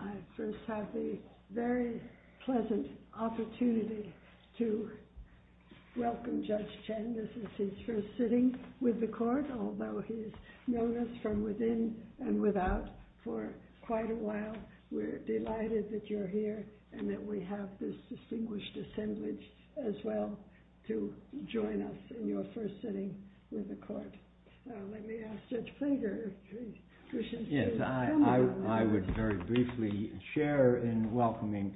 I first have the very pleasant opportunity to welcome Judge Chen. This is his first sitting with the Court, although he's known us from within and without for quite a while. We're delighted that you're here and that we have this distinguished assemblage as well to join us in your first sitting with the Court. Let me ask Judge Flinger if he wishes to comment on that. I would very briefly share in welcoming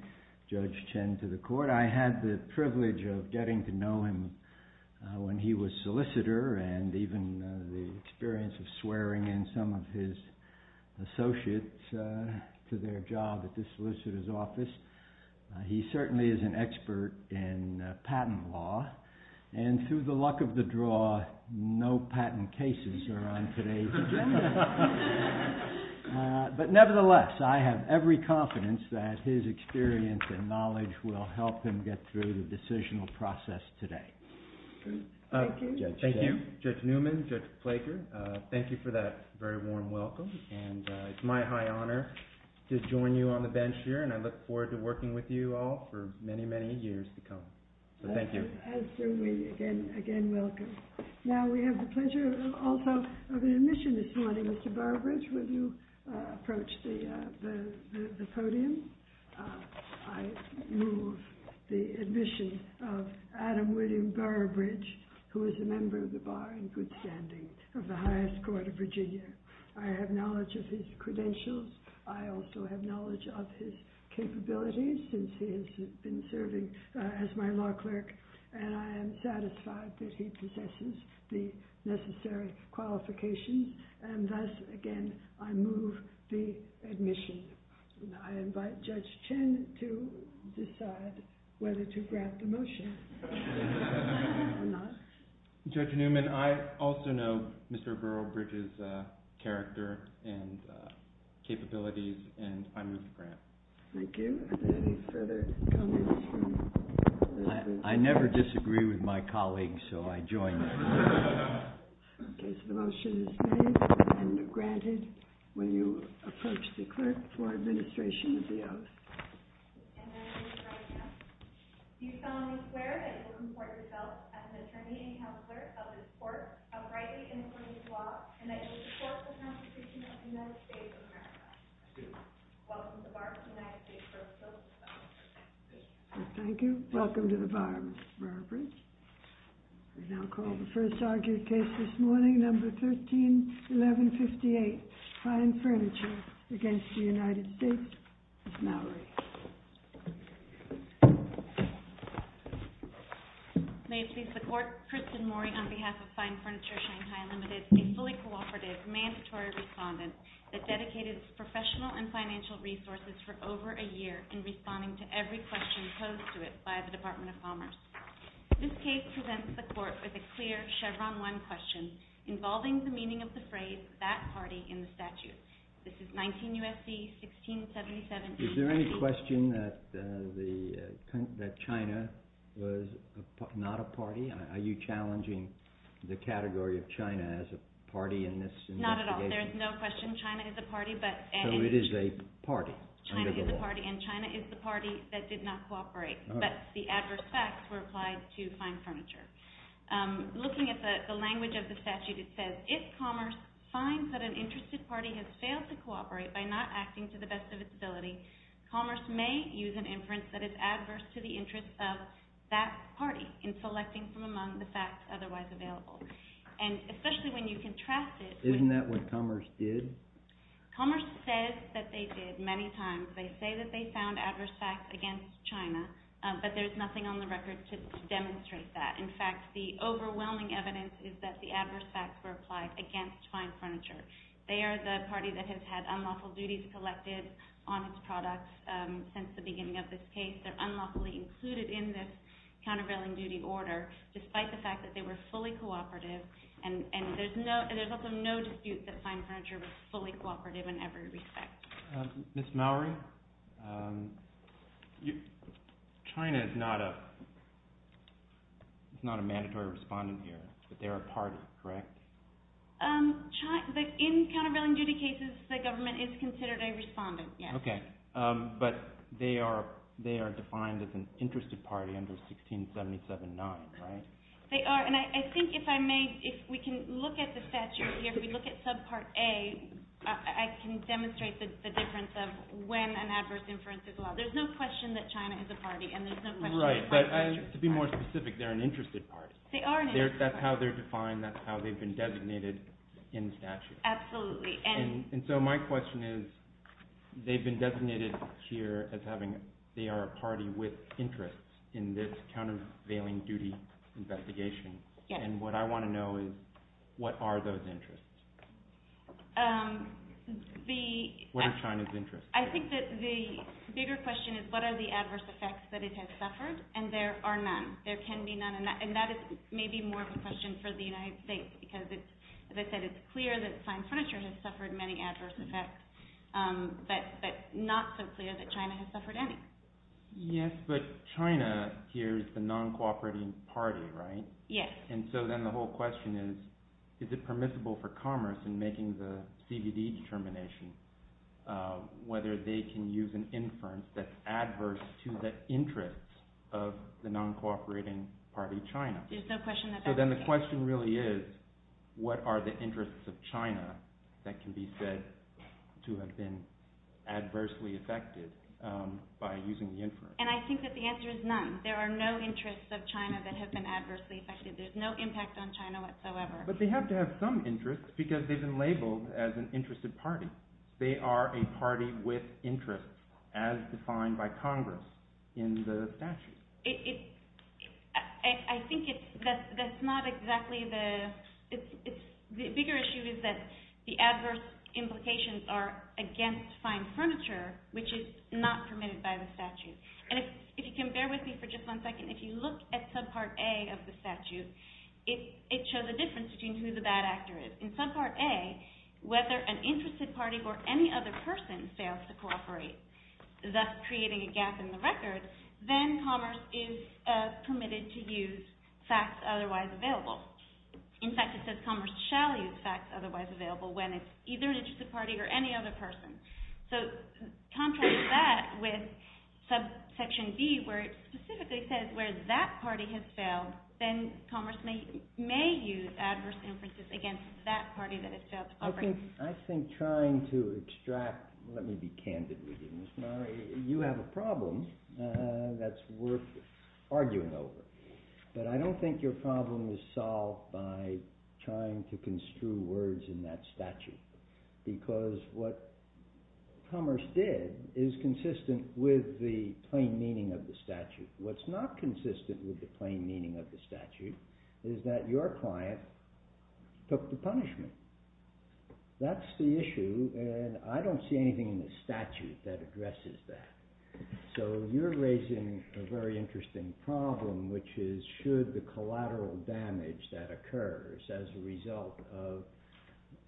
Judge Chen to the Court. I had the privilege of getting to know him when he was solicitor and even the experience of swearing in some of his associates to their job at the solicitor's office. He certainly is an expert in patent law, and through the luck of the draw, no patent cases are on today's agenda. But nevertheless, I have every confidence that his experience and knowledge will help him get through the decisional process today. Thank you. Thank you, Judge Newman, Judge Flinger. Thank you for that very warm welcome. It's my high honor to join you on the bench here, and I look forward to working with you all for many, many years to come. Thank you. Again, welcome. Now we have the pleasure also of an admission this morning. Mr. Burbridge, will you approach the podium? I move the admission of Adam William Burbridge, who is a member of the Bar and Good Standing of the Highest Court of Virginia. I have knowledge of his credentials. I also have knowledge of his capabilities since he has been serving as my law clerk, and I am satisfied that he possesses the necessary qualifications. And thus, again, I move the admission. I invite Judge Chen to decide whether to grant the motion or not. Judge Newman, I also know Mr. Burbridge's character and capabilities, and I move the grant. Thank you. Are there any further comments from the committee? I never disagree with my colleagues, so I join them. Okay, so the motion is made, and granted. Will you approach the clerk for administration of the oath? And I move the right to oath. Do you solemnly swear that you will comport yourself as an attorney and counselor of this court, uprightly in accordance with the law, and that you will support the Constitution of the United States of America? I do. Welcome to the Bar of the United States of America. I do. Thank you. Welcome to the Bar, Mr. Burbridge. We now call the first argued case this morning, Number 13-1158, Fine Furniture, against the United States. Ms. Mallory. May it please the Court, Kristen Maury on behalf of Fine Furniture Shanghai Limited, a fully cooperative, mandatory respondent that dedicated professional and financial resources for over a year in responding to every question posed to it by the Department of Commerce. This case presents the Court with a clear Chevron 1 question involving the meaning of the phrase, that party, in the statute. This is 19 U.S.C. 1677. Is there any question that China was not a party? Are you challenging the category of China as a party in this investigation? Not at all. There is no question China is a party. So it is a party under the law. China is a party, and China is the party that did not cooperate. But the adverse facts were applied to Fine Furniture. Looking at the language of the statute, it says, if Commerce finds that an interested party has failed to cooperate by not acting to the best of its ability, Commerce may use an inference that is adverse to the interests of that party in selecting from among the facts otherwise available. And especially when you contrast it. Isn't that what Commerce did? Commerce says that they did many times. They say that they found adverse facts against China, but there's nothing on the record to demonstrate that. In fact, the overwhelming evidence is that the adverse facts were applied against Fine Furniture. They are the party that has had unlawful duties collected on its products since the beginning of this case. They're unlawfully included in this countervailing duty order, despite the fact that they were fully cooperative. And there's also no dispute that Fine Furniture was fully cooperative in every respect. Ms. Mowrey, China is not a mandatory respondent here, but they are a party, correct? In countervailing duty cases, the government is considered a respondent, yes. Okay, but they are defined as an interested party under 1677-9, right? They are, and I think if I may, if we can look at the statute here, if we look at subpart A, I can demonstrate the difference of when an adverse inference is allowed. There's no question that China is a party, and there's no question that Fine Furniture is a party. Right, but to be more specific, they're an interested party. They are an interested party. That's how they're defined, that's how they've been designated in the statute. Absolutely. And so my question is, they've been designated here as having, they are a party with interests in this countervailing duty investigation. And what I want to know is, what are those interests? What are China's interests? I think that the bigger question is what are the adverse effects that it has suffered, and there are none. There can be none, and that is maybe more of a question for the United States, because it's, as I said, it's clear that Fine Furniture has suffered many adverse effects, but not so clear that China has suffered any. Yes, but China here is the non-cooperating party, right? Yes. And so then the whole question is, is it permissible for commerce in making the CBD determination, whether they can use an inference that's adverse to the interests of the non-cooperating party, China? There's no question that that's the case. So then the question really is, what are the interests of China that can be said to have been adversely affected by using the inference? And I think that the answer is none. There are no interests of China that have been adversely affected. There's no impact on China whatsoever. But they have to have some interests, because they've been labeled as an interested party. They are a party with interests, as defined by Congress in the statute. I think that's not exactly the – the bigger issue is that the adverse implications are against Fine Furniture, which is not permitted by the statute. And if you can bear with me for just one second, if you look at Subpart A of the statute, it shows a difference between who the bad actor is. In Subpart A, whether an interested party or any other person fails to cooperate, thus creating a gap in the record, then Commerce is permitted to use facts otherwise available. In fact, it says Commerce shall use facts otherwise available when it's either an interested party or any other person. So contrary to that, with Subsection B, where it specifically says where that party has failed, then Commerce may use adverse inferences against that party that has failed to cooperate. I think trying to extract – let me be candid with you, Ms. Murray. You have a problem that's worth arguing over. But I don't think your problem is solved by trying to construe words in that statute, because what Commerce did is consistent with the plain meaning of the statute. What's not consistent with the plain meaning of the statute is that your client took the punishment. That's the issue, and I don't see anything in the statute that addresses that. So you're raising a very interesting problem, which is should the collateral damage that occurs as a result of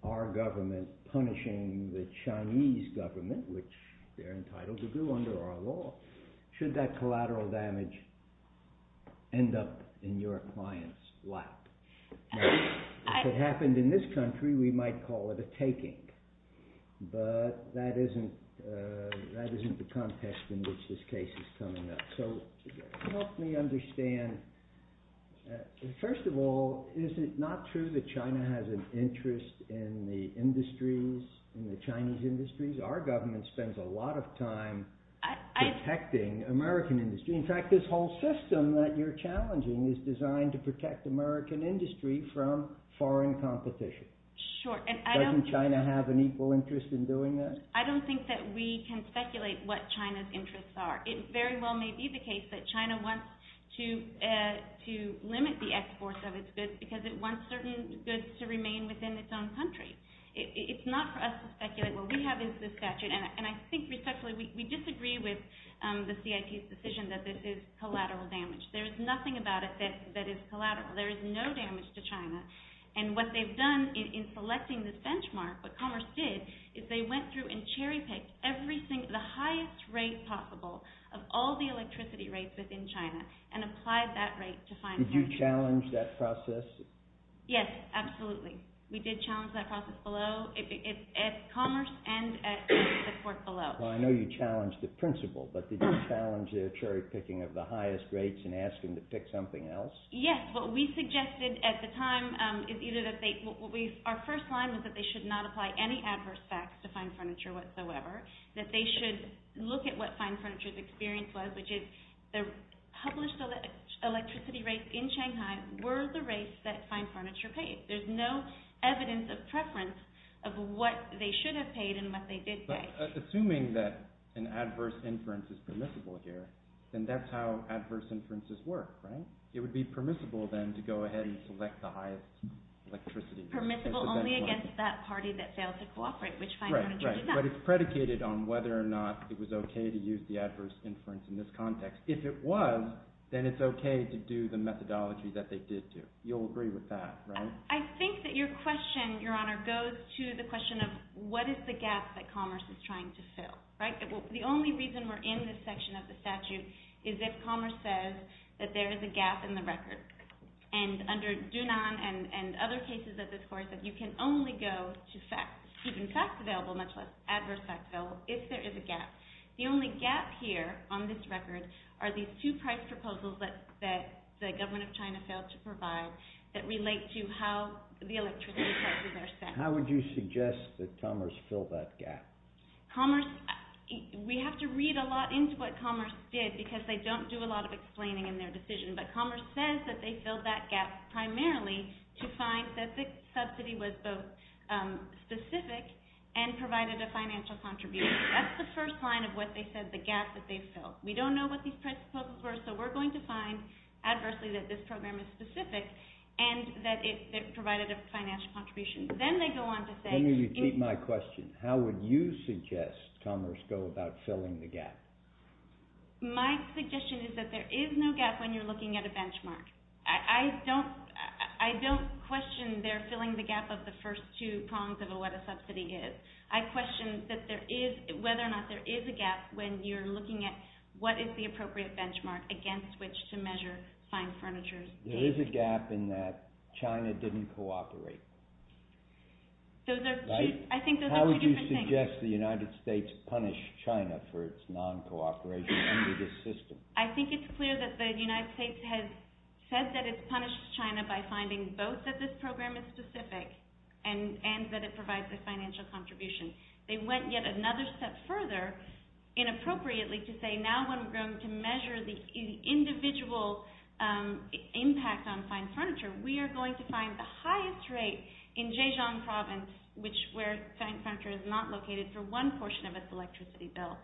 our government punishing the Chinese government, which they're entitled to do under our law, should that collateral damage end up in your client's lap? Now, if it happened in this country, we might call it a taking, but that isn't the context in which this case is coming up. So help me understand. First of all, is it not true that China has an interest in the industries, in the Chinese industries? Our government spends a lot of time protecting American industry. In fact, this whole system that you're challenging is designed to protect American industry from foreign competition. Doesn't China have an equal interest in doing that? I don't think that we can speculate what China's interests are. It very well may be the case that China wants to limit the exports of its goods because it wants certain goods to remain within its own country. It's not for us to speculate. What we have is this statute. And I think respectfully, we disagree with the CIP's decision that this is collateral damage. There is nothing about it that is collateral. There is no damage to China. And what they've done in selecting this benchmark, what Commerce did, is they went through and cherry-picked the highest rate possible of all the electricity rates within China and applied that rate to find— Did you challenge that process? Yes, absolutely. We did challenge that process below, at Commerce and at the court below. Well, I know you challenged the principle, but did you challenge the cherry-picking of the highest rates and ask them to pick something else? Yes. What we suggested at the time is either that they— Our first line was that they should not apply any adverse facts to fine furniture whatsoever, that they should look at what fine furniture's experience was, which is the published electricity rates in Shanghai were the rates that fine furniture paid. There's no evidence of preference of what they should have paid and what they did pay. But assuming that an adverse inference is permissible here, then that's how adverse inferences work, right? It would be permissible then to go ahead and select the highest electricity rate. Permissible only against that party that failed to cooperate, which fine furniture did not. But it's predicated on whether or not it was okay to use the adverse inference in this context. If it was, then it's okay to do the methodology that they did do. You'll agree with that, right? I think that your question, Your Honor, goes to the question of what is the gap that Commerce is trying to fill, right? The only reason we're in this section of the statute is if Commerce says that there is a gap in the record. And under Dunan and other cases of this course, that you can only go to student facts available, much less adverse facts available, if there is a gap. The only gap here on this record are these two price proposals that the government of China failed to provide that relate to how the electricity prices are set. How would you suggest that Commerce fill that gap? We have to read a lot into what Commerce did because they don't do a lot of explaining in their decision. But Commerce says that they filled that gap primarily to find that the subsidy was both specific and provided a financial contribution. That's the first line of what they said, the gap that they filled. We don't know what these price proposals were, so we're going to find adversely that this program is specific and that it provided a financial contribution. Let me repeat my question. How would you suggest Commerce go about filling the gap? My suggestion is that there is no gap when you're looking at a benchmark. I don't question their filling the gap of the first two prongs of what a subsidy is. I question whether or not there is a gap when you're looking at what is the appropriate benchmark against which to measure fine furniture. There is a gap in that China didn't cooperate. I think those are two different things. How would you suggest the United States punish China for its non-cooperation under this system? I think it's clear that the United States has said that it's punished China by finding both that this program is specific and that it provides a financial contribution. They went yet another step further inappropriately to say now when we're going to measure the individual impact on fine furniture, we are going to find the highest rate in Zhejiang province where fine furniture is not located for one portion of its electricity bill.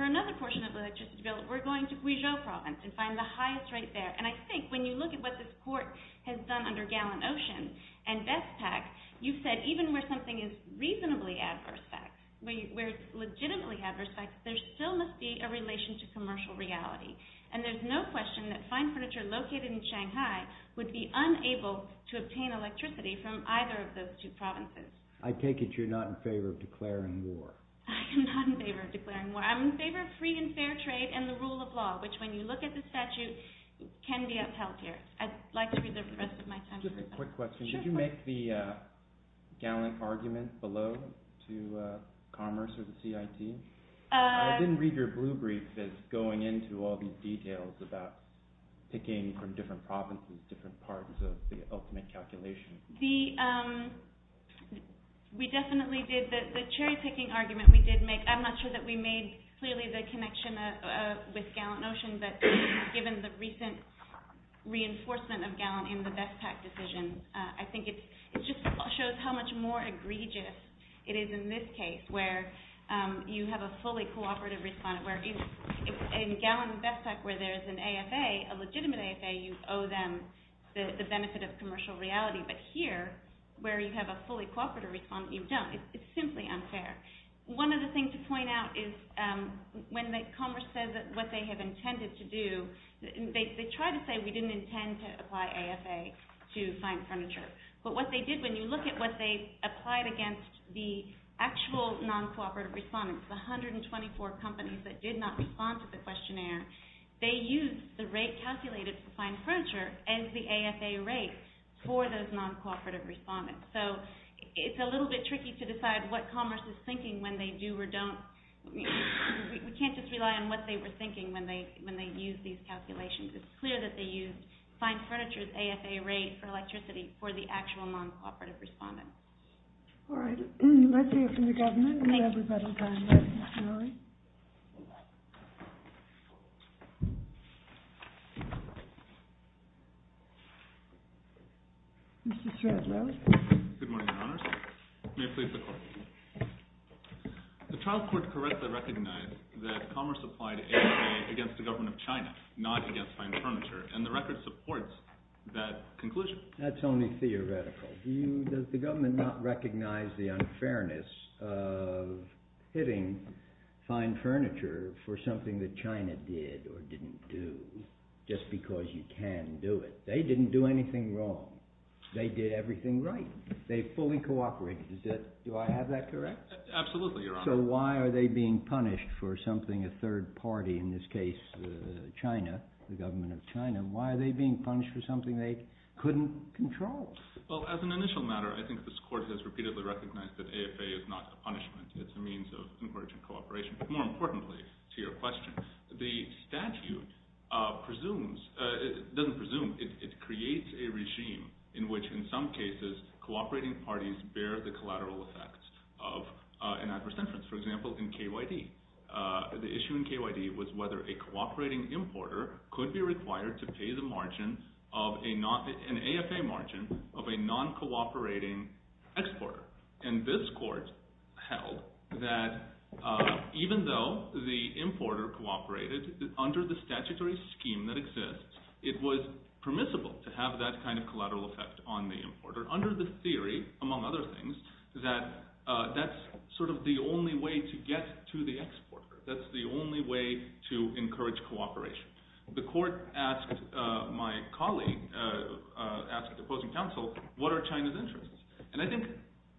For another portion of the electricity bill, we're going to Guizhou province and find the highest rate there. I think when you look at what this court has done under Gallon Ocean and BestPak, you said even where something is reasonably adverse facts, where it's legitimately adverse facts, there still must be a relation to commercial reality. There's no question that fine furniture located in Shanghai would be unable to obtain electricity from either of those two provinces. I take it you're not in favor of declaring war. I am not in favor of declaring war. I'm in favor of free and fair trade and the rule of law, which when you look at the statute can be upheld here. I'd like to reserve the rest of my time. Just a quick question. Sure. Did you make the Gallon argument below to Commerce or the CIT? I didn't read your blue brief that's going into all these details about picking from different provinces, different parts of the ultimate calculation. We definitely did. The cherry-picking argument we did make, I'm not sure that we made clearly the connection with Gallon Ocean, but given the recent reinforcement of Gallon in the BestPak decision, I think it just shows how much more egregious it is in this case where you have a fully cooperative respondent. In Gallon and BestPak where there's an AFA, a legitimate AFA, you owe them the benefit of commercial reality. But here, where you have a fully cooperative respondent, you don't. It's simply unfair. One other thing to point out is when Commerce says what they have intended to do, they try to say we didn't intend to apply AFA to fine furniture. But what they did, when you look at what they applied against the actual non-cooperative respondents, the 124 companies that did not respond to the questionnaire, they used the rate calculated for fine furniture and the AFA rate for those non-cooperative respondents. So it's a little bit tricky to decide what Commerce is thinking when they do or don't. We can't just rely on what they were thinking when they used these calculations. It's clear that they used fine furniture's AFA rate for electricity for the actual non-cooperative respondents. All right. Let's hear from the government. Mr. Shradlow. Good morning, Your Honor. May it please the Court. The trial court correctly recognized that Commerce applied AFA against the government of China, not against fine furniture, and the record supports that conclusion. That's only theoretical. Does the government not recognize the unfairness of hitting fine furniture for something that China did or didn't do just because you can do it? They didn't do anything wrong. They did everything right. They fully cooperated. Do I have that correct? Absolutely, Your Honor. So why are they being punished for something a third party, in this case China, the government of China, why are they being punished for something they couldn't control? Well, as an initial matter, I think this Court has repeatedly recognized that AFA is not a punishment. It's a means of encouraging cooperation. But more importantly to your question, the statute doesn't presume. It creates a regime in which, in some cases, cooperating parties bear the collateral effects of an adverse inference. For example, in KYD, the issue in KYD was whether a cooperating importer could be required to pay the margin, an AFA margin, of a non-cooperating exporter. And this Court held that even though the importer cooperated under the statutory scheme that exists, it was permissible to have that kind of collateral effect on the importer under the theory, among other things, that that's sort of the only way to get to the exporter. That's the only way to encourage cooperation. The Court asked my colleague, asked the opposing counsel, what are China's interests? And I think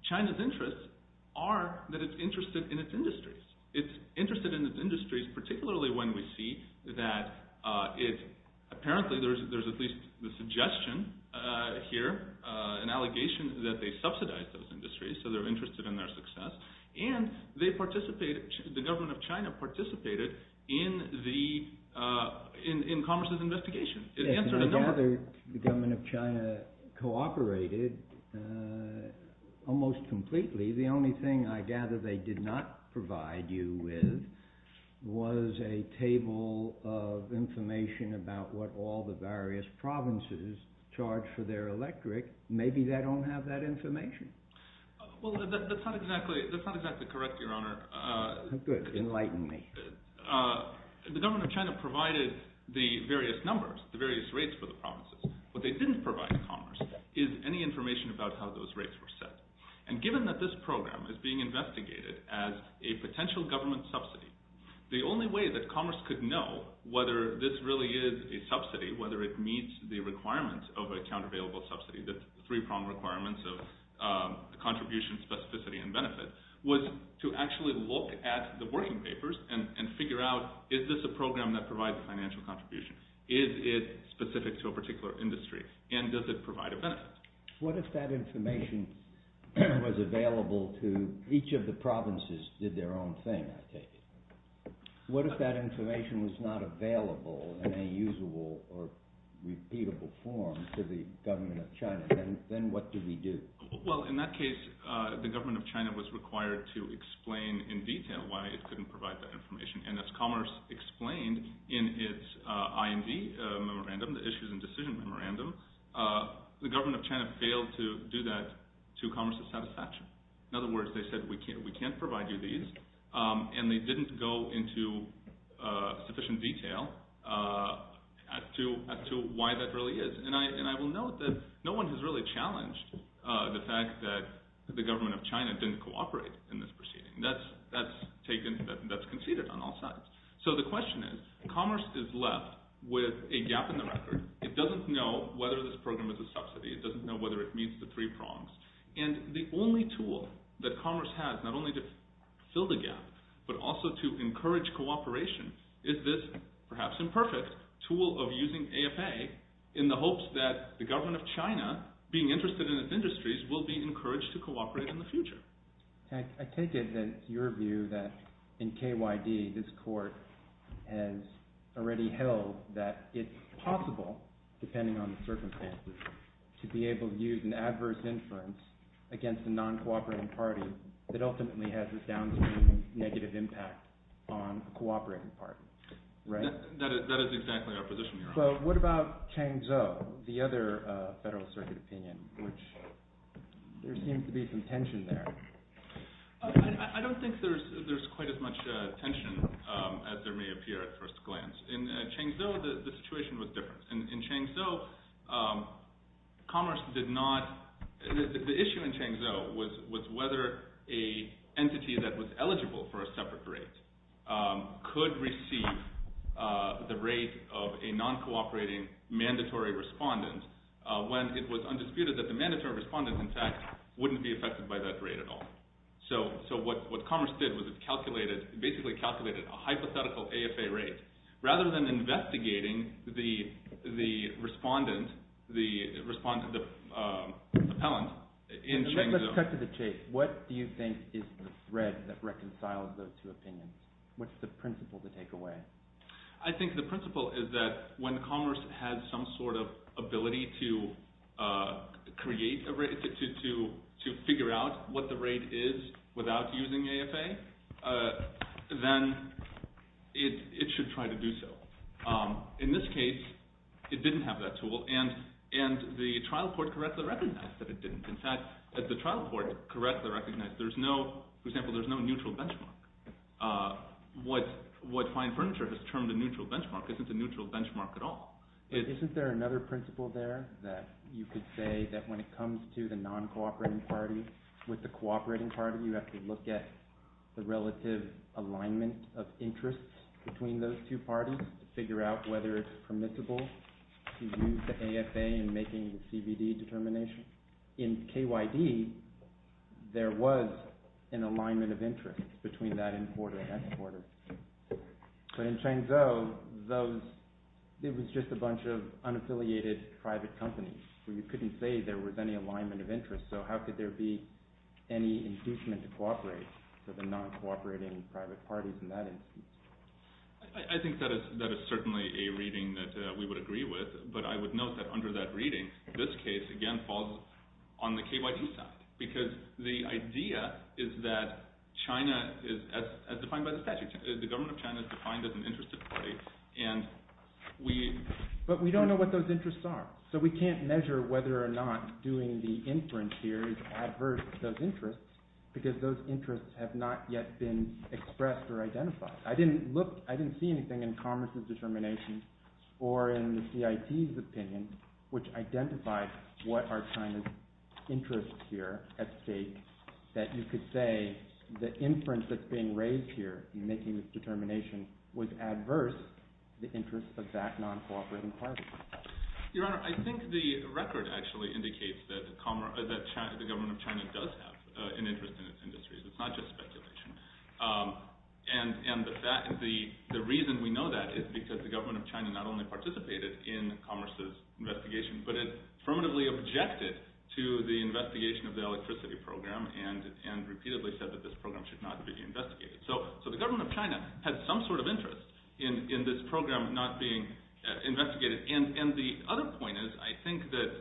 China's interests are that it's interested in its industries. It's interested in its industries, particularly when we see that apparently there's at least the suggestion here, an allegation that they subsidize those industries, so they're interested in their success, and the government of China participated in commerce's investigation. I gather the government of China cooperated almost completely. The only thing I gather they did not provide you with was a table of information about what all the various provinces charged for their electric. Maybe they don't have that information. Well, that's not exactly correct, Your Honor. Enlighten me. The government of China provided the various numbers, the various rates for the provinces. What they didn't provide commerce is any information about how those rates were set. And given that this program is being investigated as a potential government subsidy, the only way that commerce could know whether this really is a subsidy, whether it meets the requirements of an account-available subsidy, the three-prong requirements of contribution, specificity, and benefit, was to actually look at the working papers and figure out, is this a program that provides financial contribution? Is it specific to a particular industry? And does it provide a benefit? What if that information was available to each of the provinces did their own thing, I take it? What if that information was not available in a usable or repeatable form to the government of China? Then what do we do? Well, in that case, the government of China was required to explain in detail why it couldn't provide that information. And as commerce explained in its IMD memorandum, the Issues and Decisions Memorandum, the government of China failed to do that to commerce's satisfaction. In other words, they said, we can't provide you these, and they didn't go into sufficient detail as to why that really is. And I will note that no one has really challenged the fact that the government of China didn't cooperate in this proceeding. That's conceded on all sides. So the question is, commerce is left with a gap in the record. It doesn't know whether this program is a subsidy. It doesn't know whether it meets the three prongs. And the only tool that commerce has, not only to fill the gap, but also to encourage cooperation, is this perhaps imperfect tool of using AFA in the hopes that the government of China, being interested in its industries, will be encouraged to cooperate in the future. I take it that your view that in KYD this court has already held that it's possible, depending on the circumstances, to be able to use an adverse inference against a non-cooperative party that ultimately has a downstream negative impact on a cooperating party. That is exactly our position, Your Honor. But what about Changzhou, the other federal circuit opinion, which there seems to be some tension there. I don't think there's quite as much tension as there may appear at first glance. In Changzhou, the situation was different. In Changzhou, commerce did not— the issue in Changzhou was whether an entity that was eligible for a separate rate could receive the rate of a non-cooperating mandatory respondent when it was undisputed that the mandatory respondent, in fact, wouldn't be affected by that rate at all. So what commerce did was it basically calculated a hypothetical AFA rate, rather than investigating the respondent, the appellant in Changzhou. Cut to the chase. What do you think is the thread that reconciles those two opinions? What's the principle to take away? I think the principle is that when commerce has some sort of ability to create a rate, to figure out what the rate is without using AFA, then it should try to do so. In this case, it didn't have that tool, and the trial court correctly recognized that it didn't. In fact, the trial court correctly recognized there's no— for example, there's no neutral benchmark. What fine furniture has termed a neutral benchmark isn't a neutral benchmark at all. Isn't there another principle there that you could say that when it comes to the non-cooperating party with the cooperating party, you have to look at the relative alignment of interests between those two parties to figure out whether it's permissible to use the AFA in making the CBD determination. In KYD, there was an alignment of interest between that importer and exporter. But in Changzhou, it was just a bunch of unaffiliated private companies where you couldn't say there was any alignment of interest. So how could there be any inducement to cooperate for the non-cooperating private parties in that instance? I think that is certainly a reading that we would agree with, but I would note that under that reading, this case, again, falls on the KYD side because the idea is that China is, as defined by the statute, the government of China is defined as an interested party, and we— But we don't know what those interests are, so we can't measure whether or not doing the inference here is adverse to those interests because those interests have not yet been expressed or identified. I didn't see anything in Commerce's determination or in the CIT's opinion which identified what are China's interests here at stake that you could say the inference that's being raised here in making this determination was adverse to the interests of that non-cooperating party. Your Honor, I think the record actually indicates that the government of China does have an interest in its industries. It's not just speculation. And the reason we know that is because the government of China not only participated in Commerce's investigation, but it affirmatively objected to the investigation of the electricity program and repeatedly said that this program should not be investigated. So the government of China had some sort of interest in this program not being investigated. And the other point is, I think that—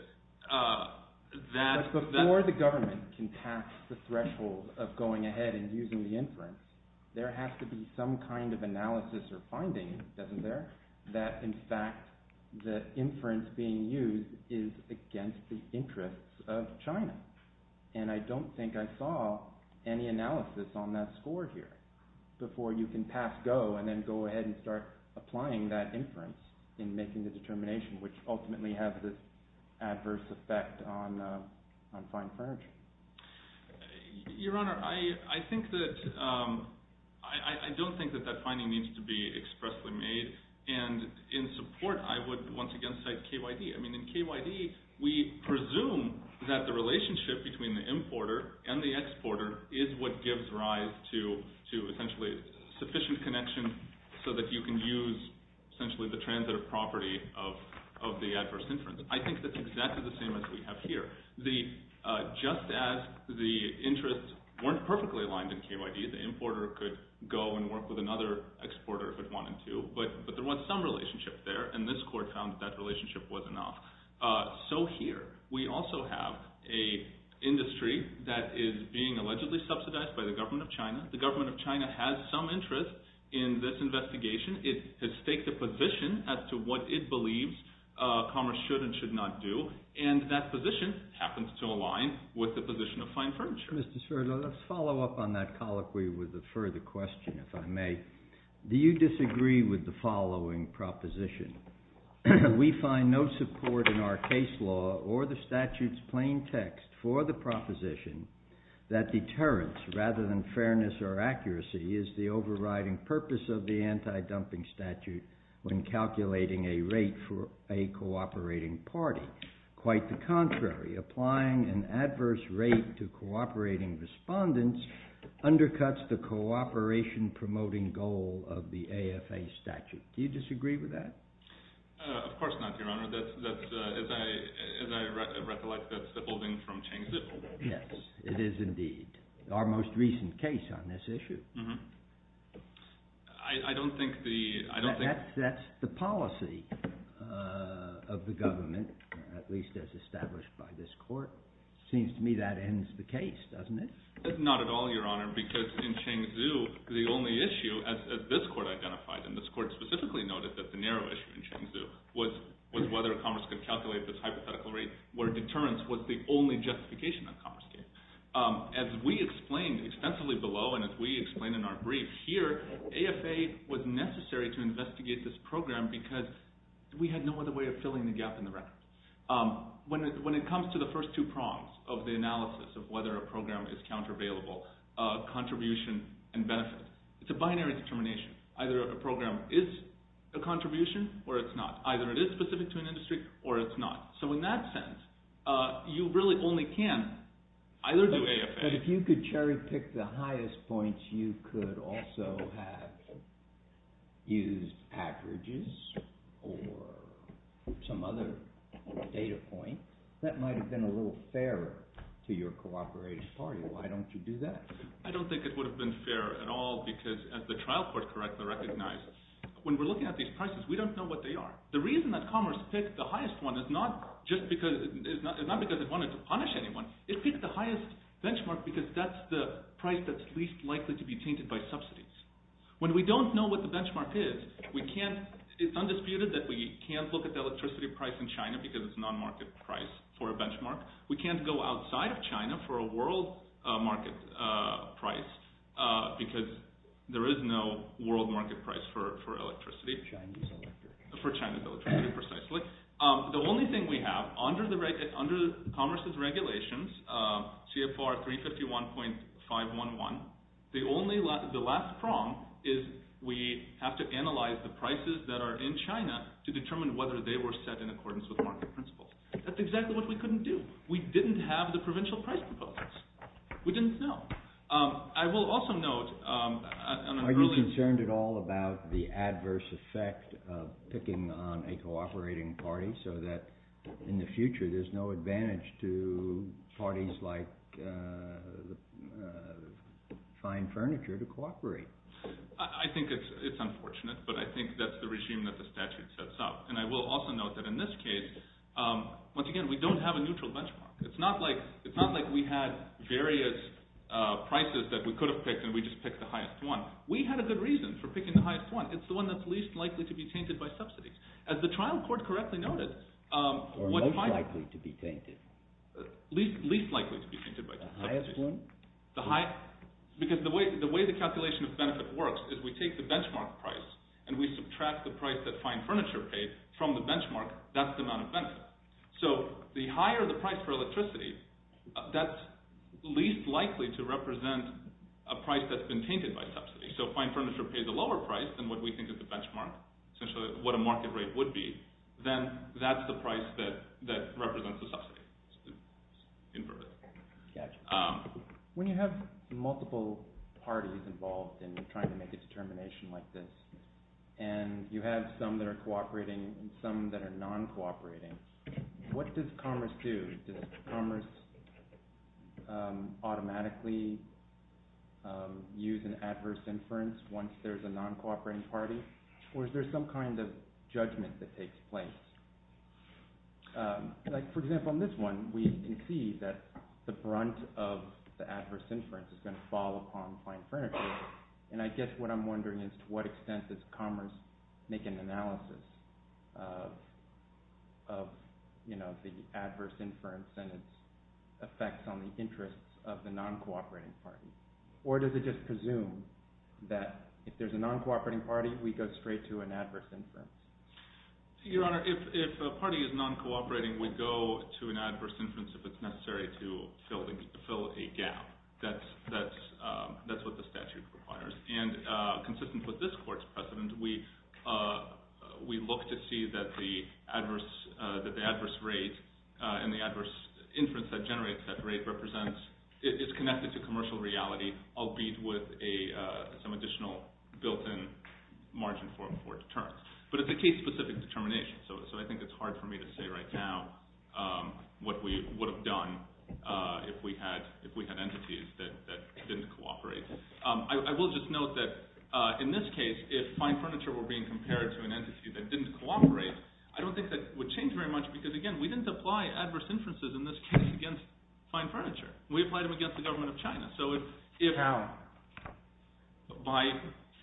there has to be some kind of analysis or finding, doesn't there, that in fact the inference being used is against the interests of China. And I don't think I saw any analysis on that score here before you can pass go and then go ahead and start applying that inference in making the determination which ultimately has this adverse effect on fine furniture. Your Honor, I think that—I don't think that that finding needs to be expressly made. And in support, I would once again cite KYD. I mean, in KYD, we presume that the relationship between the importer and the exporter is what gives rise to essentially sufficient connection so that you can use essentially the transitive property of the adverse inference. I think that's exactly the same as we have here. Just as the interests weren't perfectly aligned in KYD, the importer could go and work with another exporter if it wanted to. But there was some relationship there, and this court found that that relationship wasn't enough. So here, we also have an industry that is being allegedly subsidized by the government of China. The government of China has some interest in this investigation. It has staked a position as to what it believes commerce should and should not do. And that position happens to align with the position of fine furniture. Mr. Sverdlo, let's follow up on that colloquy with a further question, if I may. Do you disagree with the following proposition? We find no support in our case law or the statute's plain text for the proposition that deterrence rather than fairness or accuracy is the overriding purpose of the anti-dumping statute when calculating a rate for a cooperating party. Quite the contrary. Applying an adverse rate to cooperating respondents undercuts the cooperation-promoting goal of the AFA statute. Do you disagree with that? Of course not, Your Honor. As I recollect, that's the building from Cheng's little building. Yes, it is indeed. Our most recent case on this issue. I don't think the... That's the policy of the government, at least as established by this court. It seems to me that ends the case, doesn't it? Not at all, Your Honor, because in Cheng Xu, the only issue, as this court identified, and this court specifically noted that the narrow issue in Cheng Xu was whether commerce could calculate this hypothetical rate where deterrence was the only justification that commerce gave. As we explained extensively below and as we explained in our brief here, AFA was necessary to investigate this program because we had no other way of filling the gap in the record. When it comes to the first two prongs of the analysis of whether a program is countervailable, contribution and benefit, it's a binary determination. Either a program is a contribution or it's not. Either it is specific to an industry or it's not. So in that sense, you really only can either do AFA... But if you could cherry-pick the highest points, you could also have used averages or some other data point. That might have been a little fairer to your cooperating party. Why don't you do that? I don't think it would have been fair at all because, as the trial court correctly recognized, when we're looking at these prices, we don't know what they are. The reason that commerce picked the highest one is not because it wanted to punish anyone. It picked the highest benchmark because that's the price that's least likely to be tainted by subsidies. When we don't know what the benchmark is, it's undisputed that we can't look at the electricity price in China because it's a non-market price for a benchmark. We can't go outside of China for a world market price because there is no world market price for electricity. For China's electricity. For China's electricity, precisely. The only thing we have under commerce's regulations, CFR 351.511, the last prong is we have to analyze the prices that are in China to determine whether they were set in accordance with market principles. That's exactly what we couldn't do. We didn't have the provincial price proposals. We didn't know. I will also note... Are you concerned at all about the adverse effect of picking on a cooperating party so that in the future there's no advantage to parties like Fine Furniture to cooperate? I think it's unfortunate, but I think that's the regime that the statute sets up. And I will also note that in this case, once again, we don't have a neutral benchmark. It's not like we had various prices that we could have picked and we just picked the highest one. We had a good reason for picking the highest one. It's the one that's least likely to be tainted by subsidies. As the trial court correctly noted... Or most likely to be tainted. Least likely to be tainted by subsidies. The highest one? Because the way the calculation of benefit works is we take the benchmark price and we subtract the price that Fine Furniture paid from the benchmark. That's the amount of benefit. So the higher the price for electricity, that's least likely to represent a price that's been tainted by subsidies. So Fine Furniture paid the lower price than what we think is the benchmark, essentially what a market rate would be. Then that's the price that represents the subsidy. Inverted. When you have multiple parties involved in trying to make a determination like this, and you have some that are cooperating and some that are non-cooperating, what does commerce do? Does commerce automatically use an adverse inference once there's a non-cooperating party? Or is there some kind of judgment that takes place? Like, for example, in this one, we can see that the brunt of the adverse inference is going to fall upon Fine Furniture. And I guess what I'm wondering is to what extent does commerce make an analysis of the adverse inference and its effects on the interests of the non-cooperating party? Or does it just presume that if there's a non-cooperating party, we go straight to an adverse inference? Your Honor, if a party is non-cooperating, we go to an adverse inference if it's necessary to fill a gap. That's what the statute requires. And consistent with this court's precedent, we look to see that the adverse rate and the adverse inference that generates that rate is connected to commercial reality, albeit with some additional built-in margin for deterrence. But it's a case-specific determination, so I think it's hard for me to say right now what we would have done if we had entities that didn't cooperate. I will just note that in this case, if Fine Furniture were being compared to an entity that didn't cooperate, I don't think that would change very much because, again, we didn't apply adverse inferences in this case against Fine Furniture. We applied them against the government of China. How? By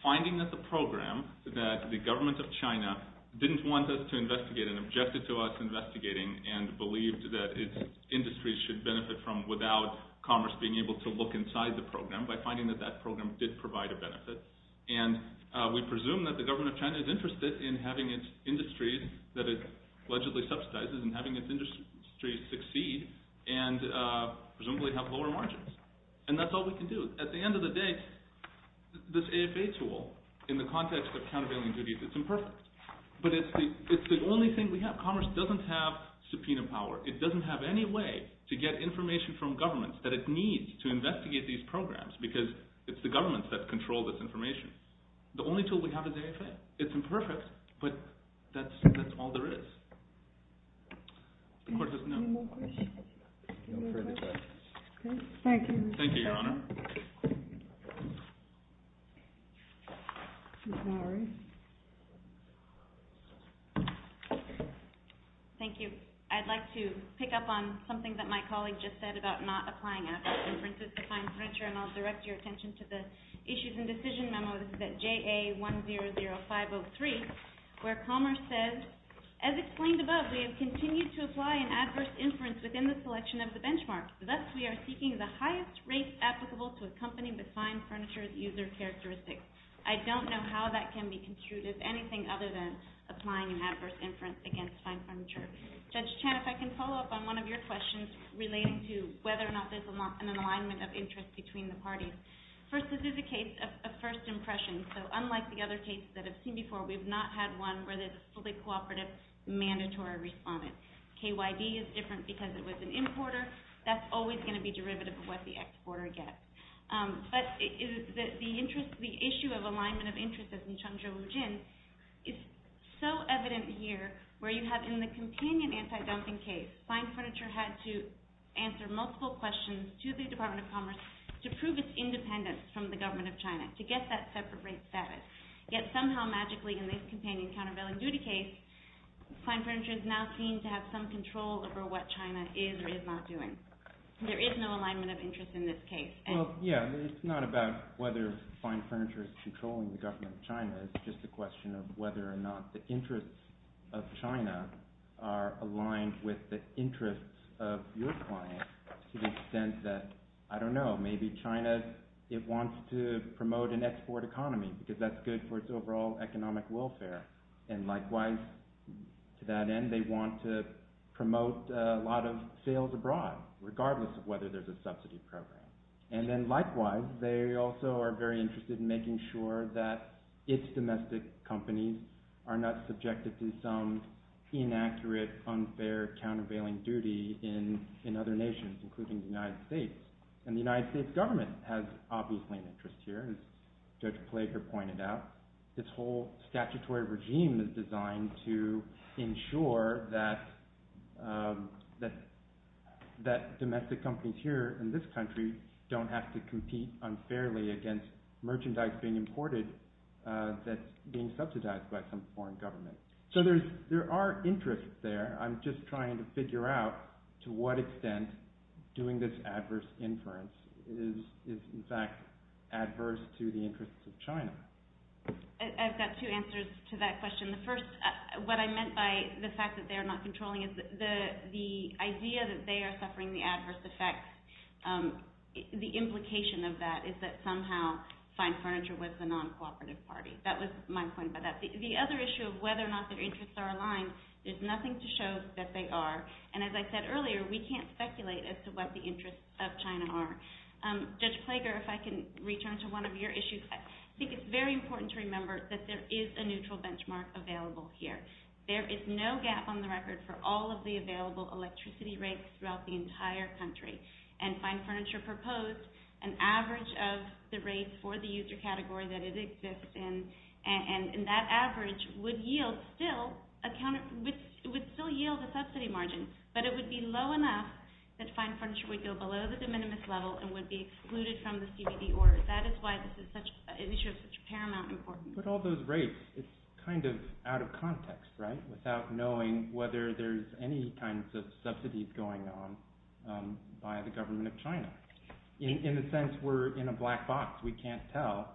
finding that the program that the government of China didn't want us to investigate and objected to us investigating and believed that its industries should benefit from without commerce being able to look inside the program, by finding that that program did provide a benefit, and we presume that the government of China is interested in having its industries, that it allegedly subsidizes, and having its industries succeed and presumably have lower margins. And that's all we can do. At the end of the day, this AFA tool, in the context of countervailing duties, it's imperfect. But it's the only thing we have. Commerce doesn't have subpoena power. It doesn't have any way to get information from governments that it needs to investigate these programs because it's the governments that control this information. The only tool we have is AFA. It's imperfect, but that's all there is. Any more questions? No further questions. Thank you. Thank you, Your Honor. Thank you. I'd like to pick up on something that my colleague just said about not applying AFA's inferences to find furniture, and I'll direct your attention to the Issues and Decision Memo. This is at JA100503, where Commerce says, As explained above, we have continued to apply an adverse inference within the selection of the benchmark. Thus, we are seeking the highest rates applicable to a company with fine furniture as user characteristics. I don't know how that can be construed as anything other than applying an adverse inference against fine furniture. Judge Chan, if I can follow up on one of your questions relating to whether or not there's an alignment of interest between the parties. First, this is a case of first impression, so unlike the other cases that I've seen before, we've not had one where there's a fully cooperative, mandatory respondent. KYD is different because it was an importer. That's always going to be derivative of what the exporter gets. But the issue of alignment of interest, as in Chengzhou-Wujin, is so evident here, where you have in the companion anti-dumping case, fine furniture had to answer multiple questions to the Department of Commerce to prove its independence from the government of China, to get that separate rate status, yet somehow, magically, in this companion countervailing duty case, fine furniture is now seen to have some control over what China is or is not doing. There is no alignment of interest in this case. Well, yeah, it's not about whether fine furniture is controlling the government of China. It's just a question of whether or not the interests of China are aligned with the interests of your client to the extent that, I don't know, maybe China wants to promote an export economy because that's good for its overall economic welfare. And likewise, to that end, they want to promote a lot of sales abroad, regardless of whether there's a subsidy program. And then, likewise, they also are very interested in making sure that its domestic companies are not subjected to some inaccurate, unfair, countervailing duty in other nations, including the United States. And the United States government has obviously an interest here, as Judge Plager pointed out. This whole statutory regime is designed to ensure that domestic companies here in this country don't have to compete unfairly against merchandise being imported that's being subsidized by some foreign government. So there are interests there. I'm just trying to figure out to what extent doing this adverse inference is, in fact, adverse to the interests of China. I've got two answers to that question. The first, what I meant by the fact that they're not controlling is the idea that they are suffering the adverse effects. The implication of that is that somehow fine furniture with the non-cooperative party. That was my point about that. The other issue of whether or not their interests are aligned, there's nothing to show that they are. And as I said earlier, we can't speculate as to what the interests of China are. Judge Plager, if I can return to one of your issues. I think it's very important to remember that there is a neutral benchmark available here. There is no gap on the record for all of the available electricity rates throughout the entire country. And Fine Furniture proposed an average of the rates for the user category that it exists in. And that average would still yield a subsidy margin, but it would be low enough that Fine Furniture would go below the de minimis level and would be excluded from the CBD order. That is why this issue is such a paramount importance. But all those rates, it's kind of out of context, right? Without knowing whether there's any kinds of subsidies going on by the government of China. In a sense, we're in a black box. We can't tell.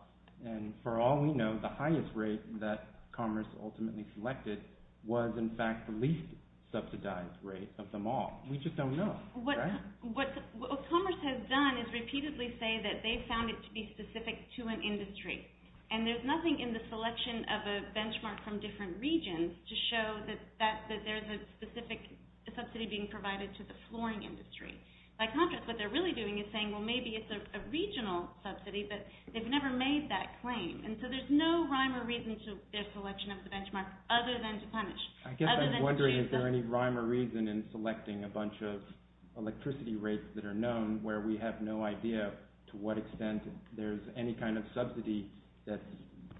And for all we know, the highest rate that Commerce ultimately selected was, in fact, the least subsidized rate of them all. We just don't know, right? What Commerce has done is repeatedly say that they found it to be specific to an industry. And there's nothing in the selection of a benchmark from different regions to show that there's a specific subsidy being provided to the flooring industry. By contrast, what they're really doing is saying, well, maybe it's a regional subsidy, but they've never made that claim. And so there's no rhyme or reason into their selection of the benchmark other than to punish. I guess I'm wondering, is there any rhyme or reason in selecting a bunch of electricity rates that are known, where we have no idea to what extent there's any kind of subsidy that's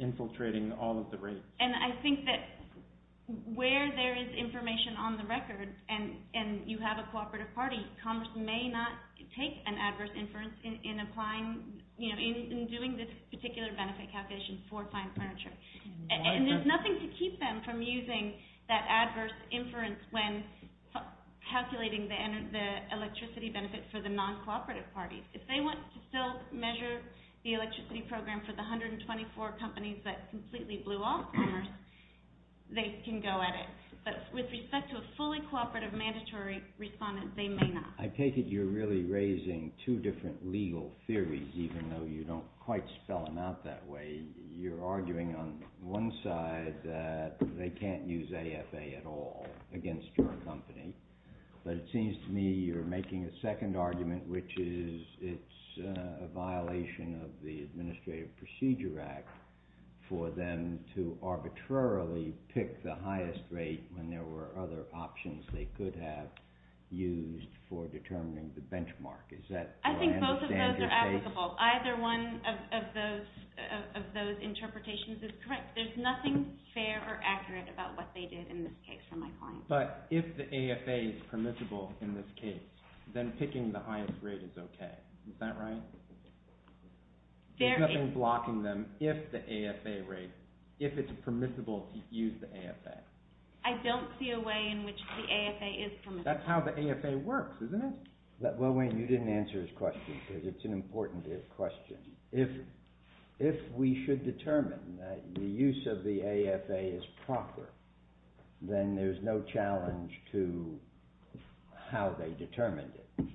infiltrating all of the rates? And I think that where there is information on the record and you have a cooperative party, Commerce may not take an adverse inference in applying, you know, in doing this particular benefit calculation for fine furniture. And there's nothing to keep them from using that adverse inference when calculating the electricity benefit for the non-cooperative parties. If they want to still measure the electricity program for the 124 companies that completely blew off Commerce, they can go at it. But with respect to a fully cooperative, mandatory respondent, they may not. I take it you're really raising two different legal theories, even though you don't quite spell them out that way. You're arguing on one side that they can't use AFA at all against your company. But it seems to me you're making a second argument, which is it's a violation of the Administrative Procedure Act for them to arbitrarily pick the highest rate when there were other options they could have used for determining the benchmark. I think both of those are applicable. Either one of those interpretations is correct. There's nothing fair or accurate about what they did in this case from my point of view. But if the AFA is permissible in this case, then picking the highest rate is okay. Is that right? There's nothing blocking them if the AFA rate, if it's permissible to use the AFA. I don't see a way in which the AFA is permissible. That's how the AFA works, isn't it? Well, Wayne, you didn't answer his question because it's an important question. If we should determine that the use of the AFA is proper, then there's no challenge to how they determined it.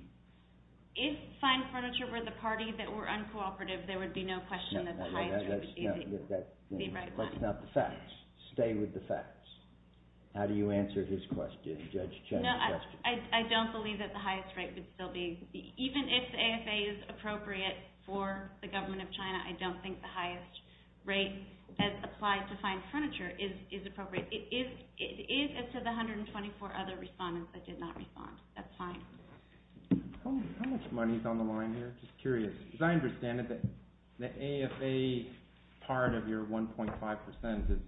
If Fine Furniture were the party that were uncooperative, there would be no question that the highest rate would be the right one. But it's not the facts. Stay with the facts. How do you answer his question, Judge Chen's question? I don't believe that the highest rate would still be... Even if the AFA is appropriate for the government of China, I don't think the highest rate that applies to Fine Furniture is appropriate. It is as to the 124 other respondents that did not respond. That's fine. How much money is on the line here? Just curious. Because I understand that the AFA part of your 1.5% is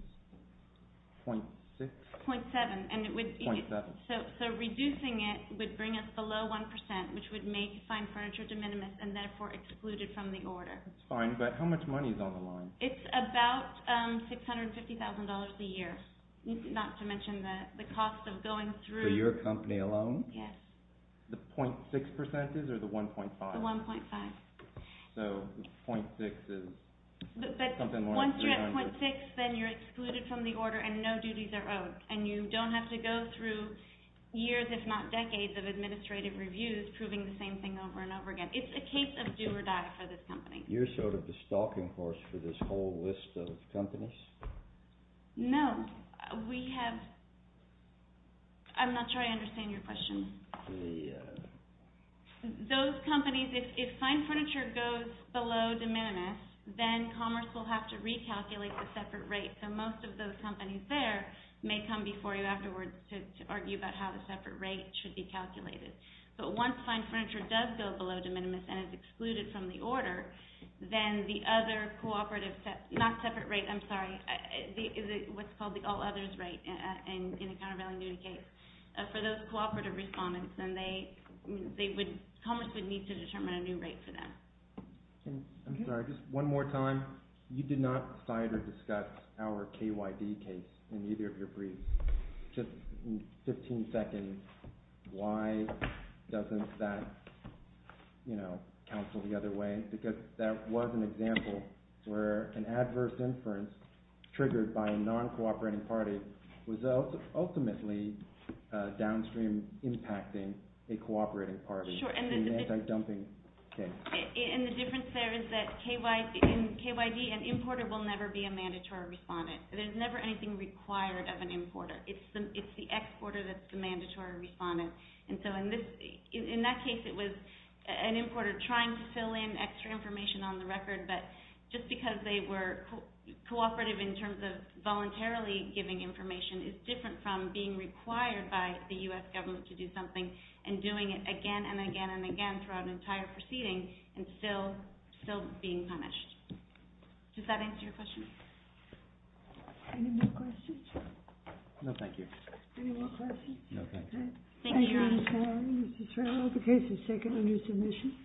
0.6? 0.7. So reducing it would bring us below 1%, which would make Fine Furniture de minimis and therefore excluded from the order. That's fine, but how much money is on the line? It's about $650,000 a year, not to mention the cost of going through... For your company alone? Yes. The 0.6% is or the 1.5? The 1.5. So 0.6 is... But once you're at 0.6, then you're excluded from the order and no duties are owed and you don't have to go through years, if not decades, of administrative reviews proving the same thing over and over again. It's a case of do or die for this company. You're sort of the stalking horse for this whole list of companies? No. We have... I'm not sure I understand your question. Those companies, if Fine Furniture goes below de minimis, then Commerce will have to recalculate the separate rate, so most of those companies there may come before you afterwards to argue about how the separate rate should be calculated. But once Fine Furniture does go below de minimis and is excluded from the order, then the other cooperative... Not separate rate, I'm sorry. What's called the all-others rate in a countervailing duty case. For those cooperative respondents, then Commerce would need to determine a new rate for them. I'm sorry, just one more time. You did not cite or discuss our KYB case in either of your briefs. Just in 15 seconds, why doesn't that counsel the other way? Because that was an example where an adverse inference triggered by a non-cooperating party was ultimately downstream impacting a cooperating party. Sure. And the difference there is that in KYB, an importer will never be a mandatory respondent. There's never anything required of an importer. It's the exporter that's the mandatory respondent. And so in that case, it was an importer trying to fill in extra information on the record, but just because they were cooperative in terms of voluntarily giving information is different from being required by the U.S. government to do something and doing it again and again and again throughout an entire proceeding and still being punished. Does that answer your question? Any more questions? No, thank you. Any more questions? No, thank you. Thank you, Your Honor. Thank you, Ms. Farrell. The case is taken under submission.